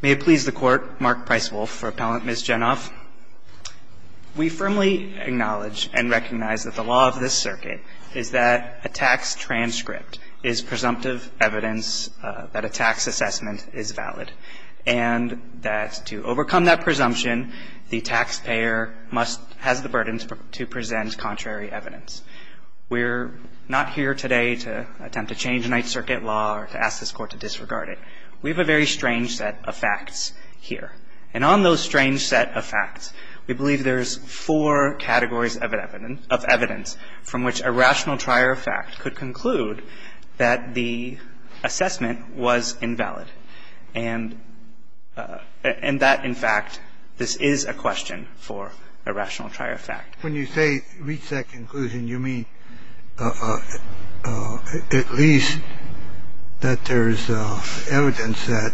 May it please the Court, Mark Pricewolf for Appellant Ms. Genov. We firmly acknowledge and recognize that the law of this circuit is that a tax transcript is presumptive evidence that a tax assessment is valid. And that to overcome that presumption, the taxpayer must, has the burden to present contrary evidence. We're not here today to attempt to change a Ninth Circuit law or to ask this Court to disregard it. We have a very strange set of facts here. And on those strange set of facts, we believe there's four categories of evidence from which a rational trier of fact could conclude that the assessment was invalid. And that, in fact, this is a question for a rational trier of fact. When you say reach that conclusion, you mean at least that there is evidence that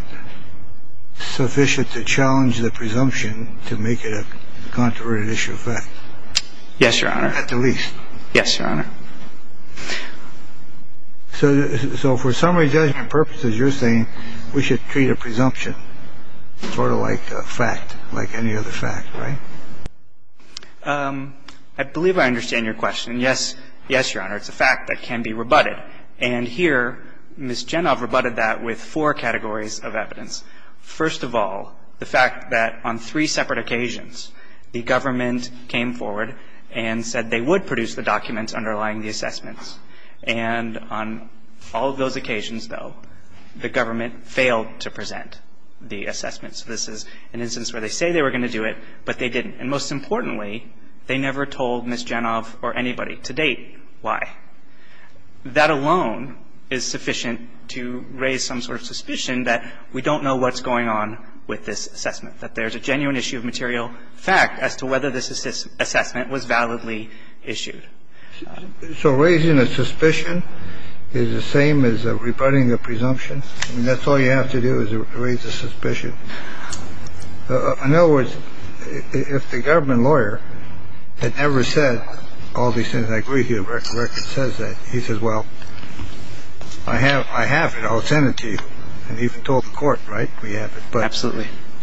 sufficient to challenge the presumption to make it a controverted issue of fact. Yes, Your Honor. At the least. Yes, Your Honor. So for summary judgment purposes, you're saying we should treat a presumption sort of like a fact, like any other fact, right? I believe I understand your question. Yes, yes, Your Honor. It's a fact that can be rebutted. And here, Ms. Genov rebutted that with four categories of evidence. First of all, the fact that on three separate occasions, the government came forward and said they would produce the documents underlying the assessments. And on all of those occasions, though, the government failed to present the assessments. This is an instance where they say they were going to do it, but they didn't. And most importantly, they never told Ms. Genov or anybody to date why. That alone is sufficient to raise some sort of suspicion that we don't know what's going on with this assessment, that there's a genuine issue of material fact as to whether this assessment was validly issued. So raising a suspicion is the same as rebutting a presumption. And that's all you have to do is raise a suspicion. In other words, if the government lawyer had never said all these things, I agree he says that. He says, well, I have it. I'll send it to you. And he told the court, right? We have it.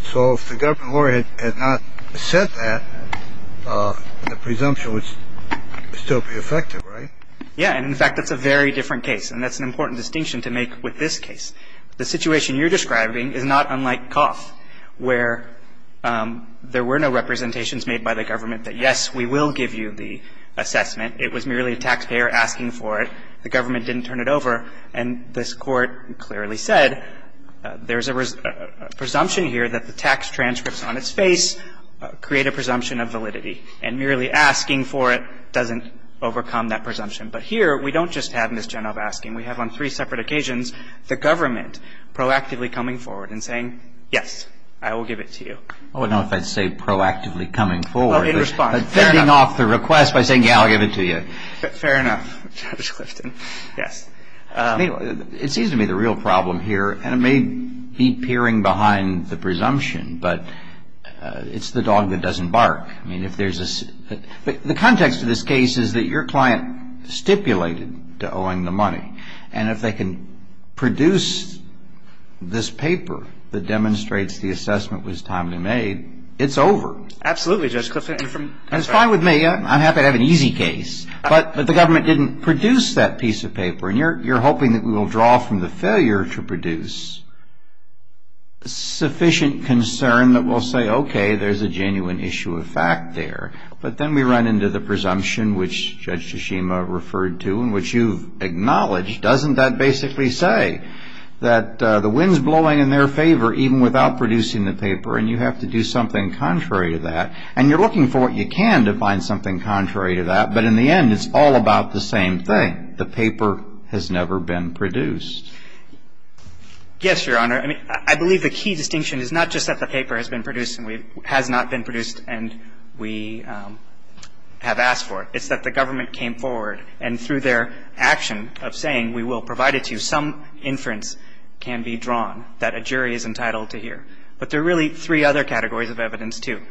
So if the government lawyer had not said that, the presumption would still be effective, right? Yeah. And, in fact, that's a very different case. And that's an important distinction to make with this case. The situation you're describing is not unlike Coff where there were no representations made by the government that, yes, we will give you the assessment. It was merely a taxpayer asking for it. The government didn't turn it over. And this Court clearly said there's a presumption here that the tax transcripts on its face create a presumption of validity. And merely asking for it doesn't overcome that presumption. But here we don't just have Ms. Genova asking. We have on three separate occasions the government proactively coming forward and saying, yes, I will give it to you. I wouldn't know if I'd say proactively coming forward. Oh, in response. Fending off the request by saying, yeah, I'll give it to you. Fair enough, Judge Clifton. It seems to me the real problem here, and it may be peering behind the presumption, but it's the dog that doesn't bark. The context of this case is that your client stipulated to owing the money. And if they can produce this paper that demonstrates the assessment was timely made, it's over. Absolutely, Judge Clifton. And it's fine with me. I'm happy to have an easy case. But the government didn't produce that piece of paper. And you're hoping that we will draw from the failure to produce sufficient concern that we'll say, okay, there's a genuine issue of fact there. But then we run into the presumption, which Judge Tshishima referred to and which you've acknowledged, doesn't that basically say that the wind's blowing in their favor, even without producing the paper, and you have to do something contrary to that. And you're looking for what you can to find something contrary to that. But in the end, it's all about the same thing. The paper has never been produced. Yes, Your Honor. I mean, I believe the key distinction is not just that the paper has been produced and has not been produced and we have asked for it. It's that the government came forward and through their action of saying we will provide it to you, some inference can be drawn that a jury is entitled to hear. But there are really three other categories of evidence, too,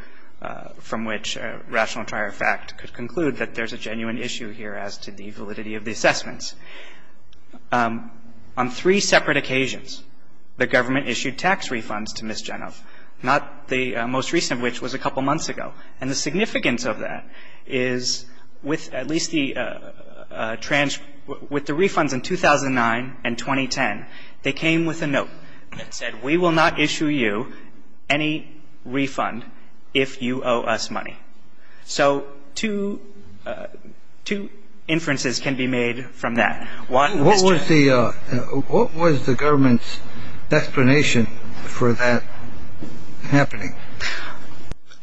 from which rational trier of fact could conclude that there's a genuine issue here as to the validity of the assessments. On three separate occasions, the government issued tax refunds to Ms. Jeneff, not the most recent of which was a couple months ago. And the significance of that is with at least the refunds in 2009 and 2010, they came with a note that said we will not issue you any refund if you owe us money. So two inferences can be made from that. What was the government's explanation for that happening?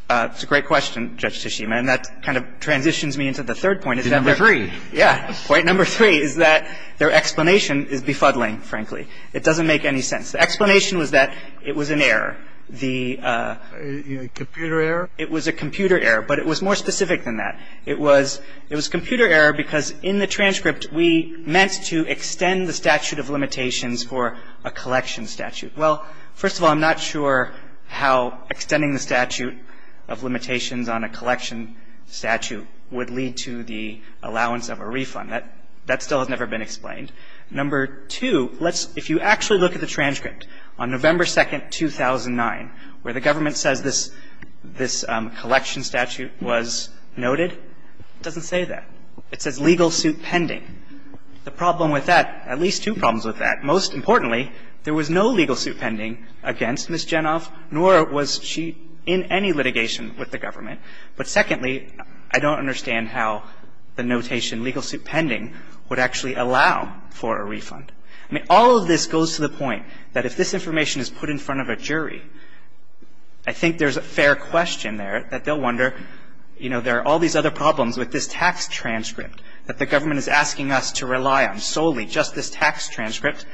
That's a great question, Judge Tashima. And that kind of transitions me into the third point. Number three. Yeah. Point number three is that their explanation is befuddling, frankly. It doesn't make any sense. The explanation was that it was an error. The — Computer error? It was a computer error, but it was more specific than that. It was computer error because in the transcript we meant to extend the statute of limitations for a collection statute. Well, first of all, I'm not sure how extending the statute of limitations on a collection statute would lead to the allowance of a refund. That still has never been explained. Number two, let's — if you actually look at the transcript on November 2, 2009, where the government says this collection statute was noted, it doesn't say that. It says legal suit pending. The problem with that — at least two problems with that. Most importantly, there was no legal suit pending against Ms. Genoff, nor was she in any litigation with the government. But secondly, I don't understand how the notation legal suit pending would actually allow for a refund. I mean, all of this goes to the point that if this information is put in front of a jury, I think there's a fair question there that they'll wonder, you know, there are all these other problems with this tax transcript that the government is asking us to rely on solely just this tax transcript.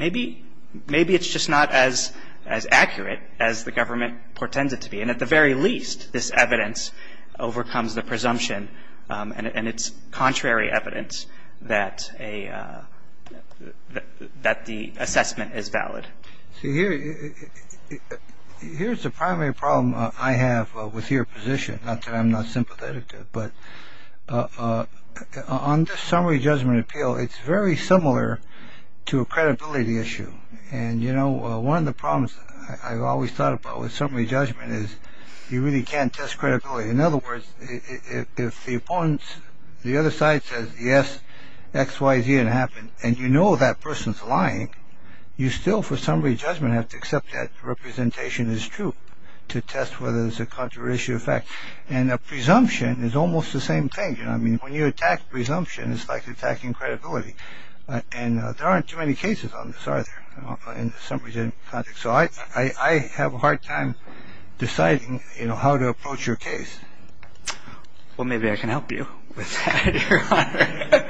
Maybe it's just not as accurate as the government portends it to be. And at the very least, this evidence overcomes the presumption, and it's contrary evidence that the assessment is valid. See, here's the primary problem I have with your position, not that I'm not sympathetic to it, but on this summary judgment appeal, it's very similar to a credibility issue. And, you know, one of the problems I've always thought about with summary judgment is you really can't test credibility. In other words, if the opponent's — the other side says, yes, X, Y, Z, it happened, and you know that person's lying, you still, for summary judgment, have to accept that representation is true to test whether there's a contrary issue effect. And a presumption is almost the same thing. You know, I mean, when you attack presumption, it's like attacking credibility. And there aren't too many cases on this, are there, in summary judgment context. So I have a hard time deciding, you know, how to approach your case. Well, maybe I can help you with that, Your Honor.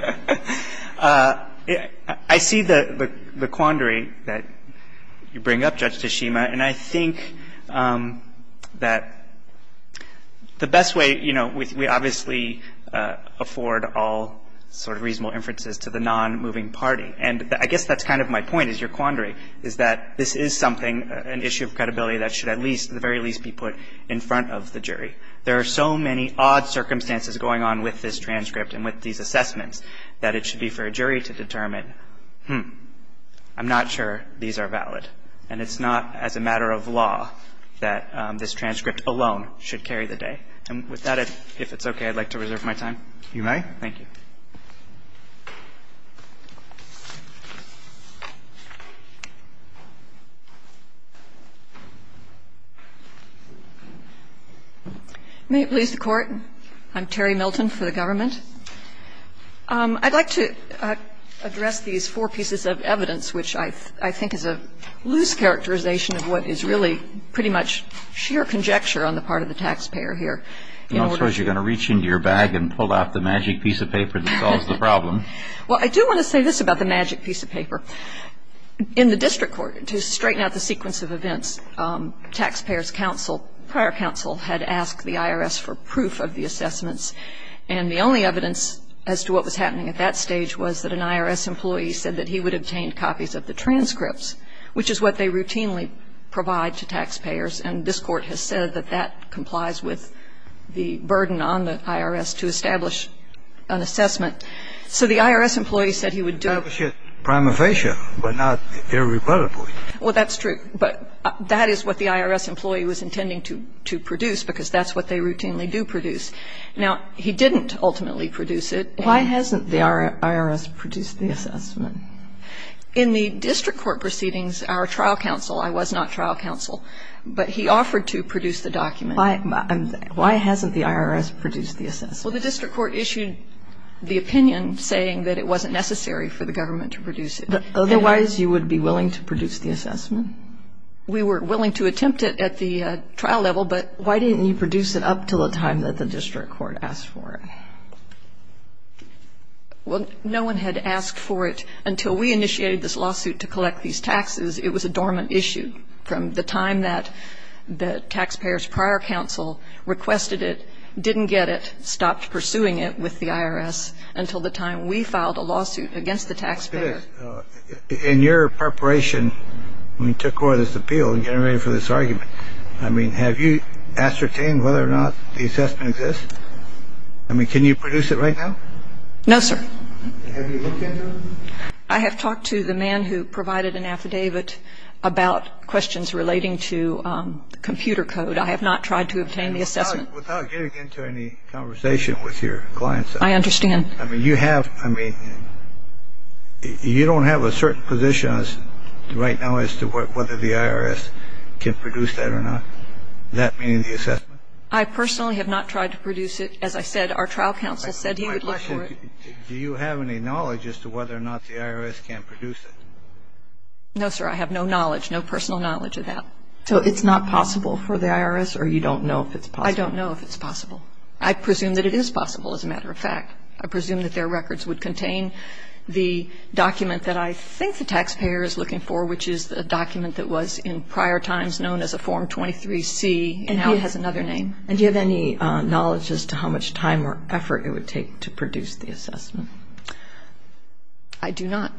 I see the quandary that you bring up, Judge Tashima, and I think that the best way, you know, we obviously afford all sort of reasonable inferences to the nonmoving party. And I guess that's kind of my point, is your quandary, is that this is something, an issue of credibility that should at least, at the very least, be put in front of the jury. There are so many odd circumstances going on with this transcript and with these assessments that it should be for a jury to determine, hmm, I'm not sure these are valid. And it's not as a matter of law that this transcript alone should carry the day. And with that, if it's okay, I'd like to reserve my time. You may. Thank you. May it please the Court. I'm Terry Milton for the government. And I'd like to address these four pieces of evidence, which I think is a loose characterization of what is really pretty much sheer conjecture on the part of the taxpayer here. I suppose you're going to reach into your bag and pull out the magic piece of paper that solves the problem. Well, I do want to say this about the magic piece of paper. In the district court, to straighten out the sequence of events, taxpayers' counsel, prior counsel, had asked the IRS for proof of the assessments. And the only evidence as to what was happening at that stage was that an IRS employee said that he would obtain copies of the transcripts, which is what they routinely provide to taxpayers. And this Court has said that that complies with the burden on the IRS to establish an assessment. So the IRS employee said he would do it. Establish it prima facie, but not irreparably. Well, that's true. But that is what the IRS employee was intending to produce, because that's what they routinely do produce. Now, he didn't ultimately produce it. Why hasn't the IRS produced the assessment? In the district court proceedings, our trial counsel, I was not trial counsel, but he offered to produce the document. Why hasn't the IRS produced the assessment? Well, the district court issued the opinion saying that it wasn't necessary for the government to produce it. Otherwise, you would be willing to produce the assessment? We were willing to attempt it at the trial level, but why didn't you produce it up until the time that the district court asked for it? Well, no one had asked for it until we initiated this lawsuit to collect these taxes. It was a dormant issue from the time that the taxpayers' prior counsel requested it, didn't get it, stopped pursuing it with the IRS, until the time we filed a lawsuit against the taxpayer. It is. In your preparation when you took over this appeal and getting ready for this argument, I mean, have you ascertained whether or not the assessment exists? I mean, can you produce it right now? No, sir. Have you looked into it? I have talked to the man who provided an affidavit about questions relating to computer code. I have not tried to obtain the assessment. Without getting into any conversation with your clients. I understand. I mean, you don't have a certain position right now as to whether the IRS can produce that or not? That being the assessment? I personally have not tried to produce it. As I said, our trial counsel said he would look for it. Do you have any knowledge as to whether or not the IRS can produce it? No, sir. I have no knowledge, no personal knowledge of that. So it's not possible for the IRS, or you don't know if it's possible? I don't know if it's possible. I presume that it is possible, as a matter of fact. I presume that their records would contain the document that I think the taxpayer is looking for, which is the document that was in prior times known as a Form 23-C, and now it has another name. And do you have any knowledge as to how much time or effort it would take to produce the assessment? I do not.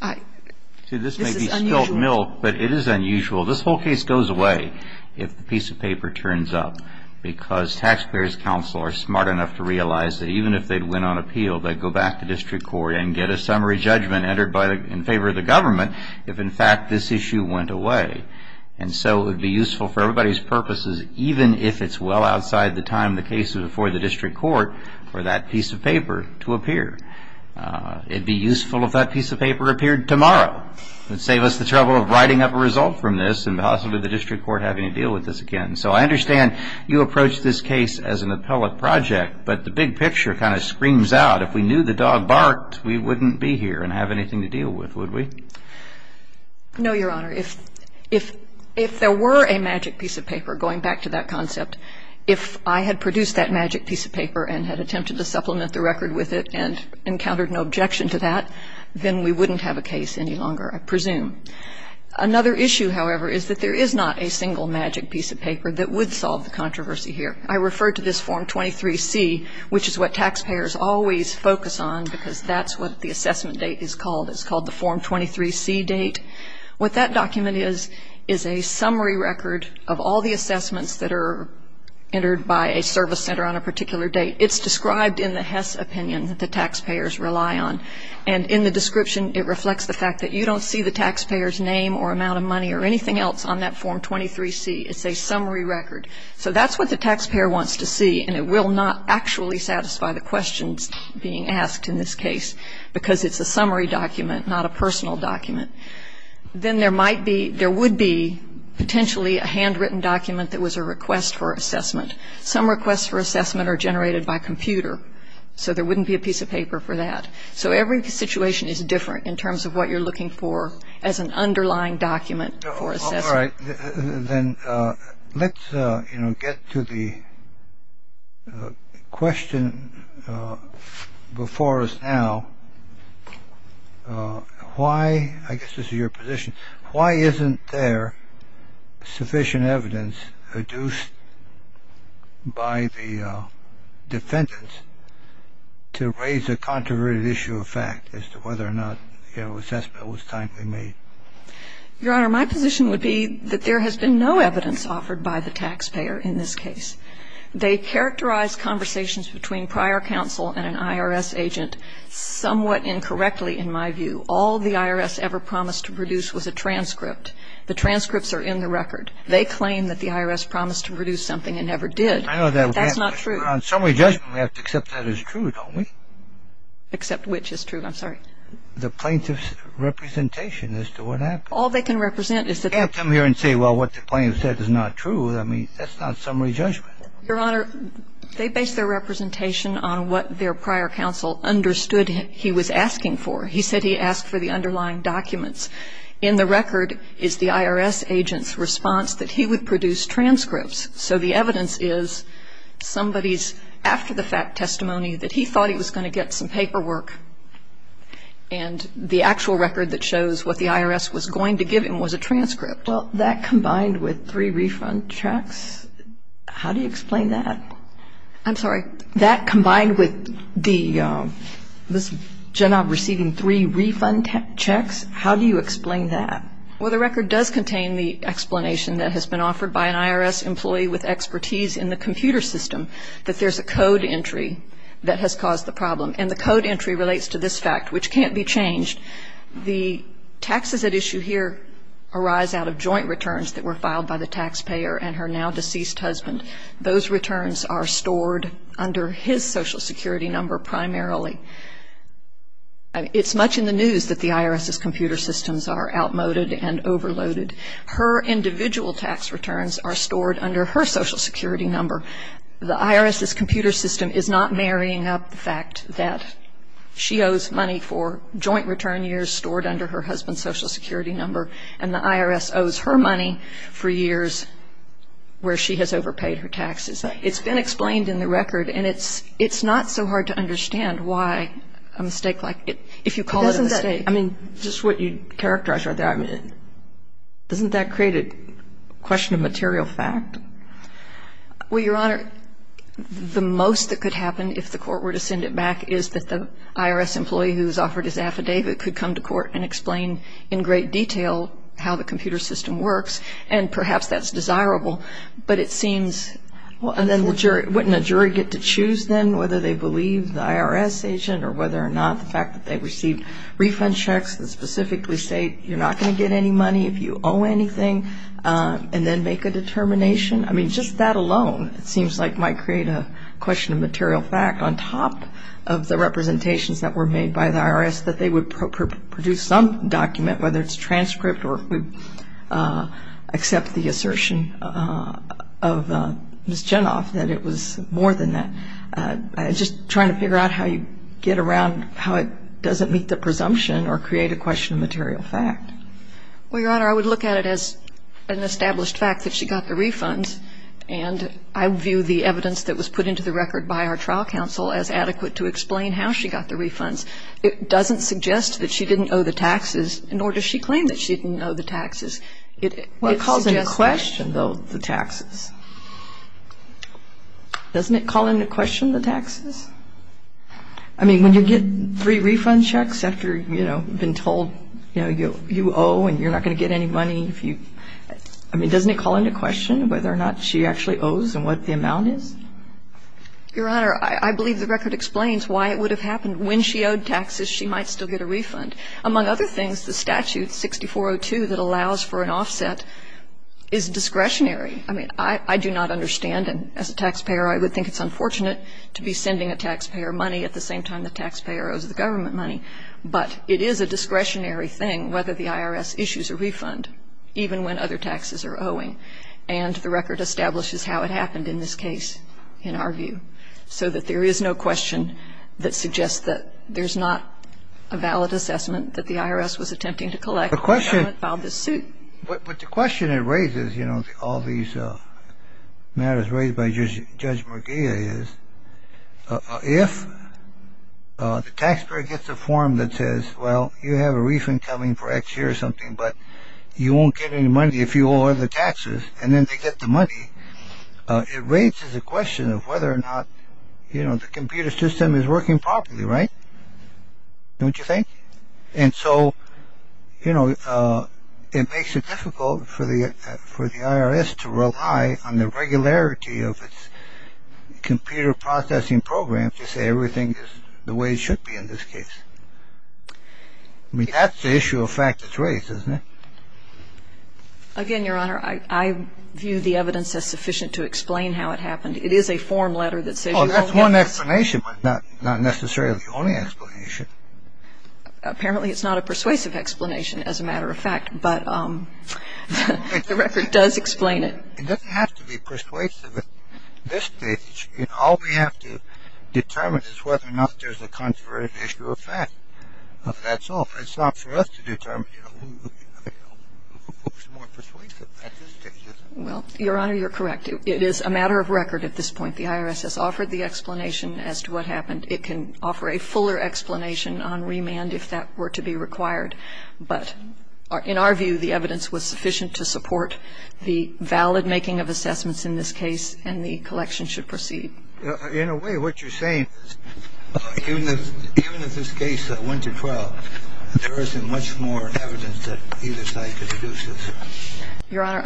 This is unusual. See, this may be spilt milk, but it is unusual. This whole case goes away if the piece of paper turns up, because taxpayers' counsel are smart enough to realize that even if they'd win on appeal, they'd go back to district court and get a summary judgment entered in favor of the government if, in fact, this issue went away. And so it would be useful for everybody's purposes, even if it's well outside the time of the case before the district court, for that piece of paper to appear. It would be useful if that piece of paper appeared tomorrow. It would save us the trouble of writing up a result from this and possibly the district court having to deal with this again. So I understand you approach this case as an appellate project, but the big picture kind of screams out. If we knew the dog barked, we wouldn't be here and have anything to deal with, would we? No, Your Honor. If there were a magic piece of paper, going back to that concept, if I had produced that magic piece of paper and had attempted to supplement the record with it and encountered no objection to that, then we wouldn't have a case any longer, I presume. Another issue, however, is that there is not a single magic piece of paper that would solve the controversy here. I refer to this Form 23-C, which is what taxpayers always focus on because that's what the assessment date is called. It's called the Form 23-C date. What that document is is a summary record of all the assessments that are entered by a service center on a particular date. It's described in the Hess opinion that the taxpayers rely on. And in the description, it reflects the fact that you don't see the taxpayer's name or amount of money or anything else on that Form 23-C. It's a summary record. So that's what the taxpayer wants to see, and it will not actually satisfy the questions being asked in this case because it's a summary document, not a personal document. Then there might be, there would be potentially a handwritten document that was a request for assessment. Some requests for assessment are generated by computer, so there wouldn't be a piece of paper for that. So every situation is different in terms of what you're looking for as an underlying document for assessment. All right. Then let's, you know, get to the question before us now. Why, I guess this is your position, why isn't there sufficient evidence produced by the defendants to raise a controverted issue of fact as to whether or not, you know, assessment was timely made? Your Honor, my position would be that there has been no evidence offered by the taxpayer in this case. They characterize conversations between prior counsel and an IRS agent somewhat incorrectly, in my view. All the IRS ever promised to produce was a transcript. The transcripts are in the record. They claim that the IRS promised to produce something and never did. I know that. That's not true. On summary judgment, we have to accept that as true, don't we? Accept which is true? I'm sorry. The plaintiff's representation as to what happened. All they can represent is that they can't come here and say, well, what the plaintiff said is not true. I mean, that's not summary judgment. Your Honor, they base their representation on what their prior counsel understood he was asking for. He said he asked for the underlying documents. In the record is the IRS agent's response that he would produce transcripts. So the evidence is somebody's after-the-fact testimony that he thought he was going to get some paperwork, and the actual record that shows what the IRS was going to give him was a transcript. Well, that combined with three refund checks, how do you explain that? I'm sorry. That combined with the gen-ob receiving three refund checks, how do you explain that? Well, the record does contain the explanation that has been offered by an IRS employee with expertise in the computer system, that there's a code entry that has caused the problem. And the code entry relates to this fact, which can't be changed. The taxes at issue here arise out of joint returns that were filed by the taxpayer and her now-deceased husband. Those returns are stored under his Social Security number primarily. It's much in the news that the IRS's computer systems are outmoded and overloaded. Her individual tax returns are stored under her Social Security number. The IRS's computer system is not marrying up the fact that she owes money for joint return years stored under her husband's Social Security number, and the IRS owes her money for years where she has overpaid her taxes. It's been explained in the record, and it's not so hard to understand why a mistake like it, if you call it a mistake. I mean, just what you characterized right there, I mean, doesn't that create a question of material fact? Well, Your Honor, the most that could happen, if the court were to send it back, is that the IRS employee who's offered his affidavit could come to court and explain in great detail how the computer system works. And perhaps that's desirable, but it seems — And then wouldn't a jury get to choose then whether they believe the IRS agent or whether or not the fact that they received refund checks that specifically state you're not going to get any money if you owe anything, and then make a determination? I mean, just that alone, it seems like, might create a question of material fact. On top of the representations that were made by the IRS that they would produce some document, whether it's transcript or accept the assertion of Ms. Jenoff that it was more than that, just trying to figure out how you get around how it doesn't meet the presumption or create a question of material fact. Well, Your Honor, I would look at it as an established fact that she got the refunds. And I view the evidence that was put into the record by our trial counsel as adequate to explain how she got the refunds. It doesn't suggest that she didn't owe the taxes, nor does she claim that she didn't owe the taxes. It calls into question, though, the taxes. Doesn't it call into question the taxes? I mean, when you get three refund checks after, you know, been told, you know, you owe and you're not going to get any money if you – I mean, doesn't it call into question whether or not she actually owes and what the amount is? Your Honor, I believe the record explains why it would have happened. When she owed taxes, she might still get a refund. Among other things, the statute 6402 that allows for an offset is discretionary. I mean, I do not understand, and as a taxpayer, I would think it's unfortunate to be sending a taxpayer money at the same time the taxpayer owes the government money. But it is a discretionary thing whether the IRS issues a refund, even when other taxes are owing. And the record establishes how it happened in this case, in our view, so that there is no question that suggests that there's not a valid assessment that the IRS was attempting to collect when the government filed this suit. But the question it raises, you know, all these matters raised by Judge McGee is, if the taxpayer gets a form that says, well, you have a refund coming for X year or something, but you won't get any money if you owe all the taxes, and then they get the money, it raises a question of whether or not, you know, the computer system is working properly, right? Don't you think? And so, you know, it makes it difficult for the IRS to rely on the regularity of its computer processing program to say everything is the way it should be in this case. I mean, that's the issue of fact that's raised, isn't it? Again, Your Honor, I view the evidence as sufficient to explain how it happened. Well, that's one explanation, but not necessarily the only explanation. Apparently, it's not a persuasive explanation, as a matter of fact, but the record does explain it. Well, Your Honor, you're correct. It is a matter of record at this point. The IRS has offered the explanation as to what happened. It can offer a fuller explanation on remand if that were to be required, but in our view, the evidence was sufficient to support the valid making of assessments in this case, and the collection should proceed. Your Honor,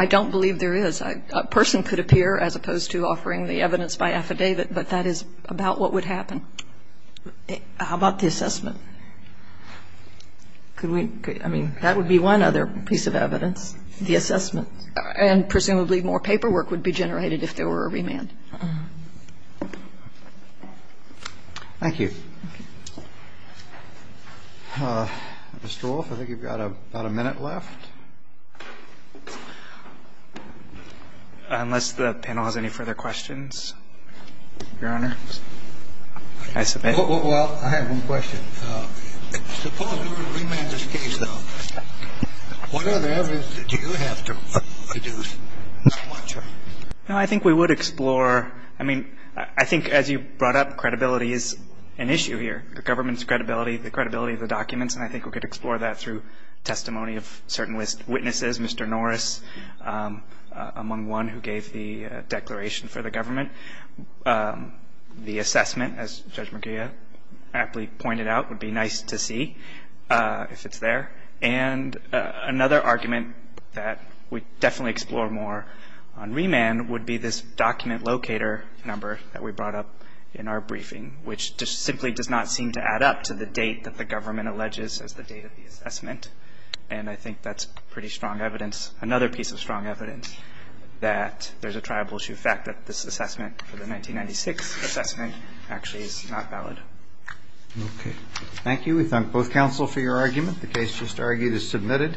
I don't believe there is. A person could appear as opposed to offering the evidence by affidavit, but that is about what would happen. How about the assessment? Could we? I mean, that would be one other piece of evidence, the assessment. And presumably more paperwork would be generated if there were a remand. Thank you. Mr. Wolf, I think you've got about a minute left. Unless the panel has any further questions. Your Honor? Well, I have one question. Suppose you were to remand this case, though. What other evidence do you have to deduce? Well, I think we would explore. I mean, I think as you brought up, credibility is an issue here, the government's credibility, the credibility of the documents, and I think we could explore that through Mr. Norris, among one who gave the declaration for the government. The assessment, as Judge McGeough aptly pointed out, would be nice to see if it's there. And another argument that we definitely explore more on remand would be this document locator number that we brought up in our briefing, which simply does not seem to add up to the date that the government alleges as the date of the assessment. And I think that's pretty strong evidence, another piece of strong evidence, that there's a tribal issue. The fact that this assessment, the 1996 assessment, actually is not valid. Okay. Thank you. We thank both counsel for your argument. The case just argued is submitted.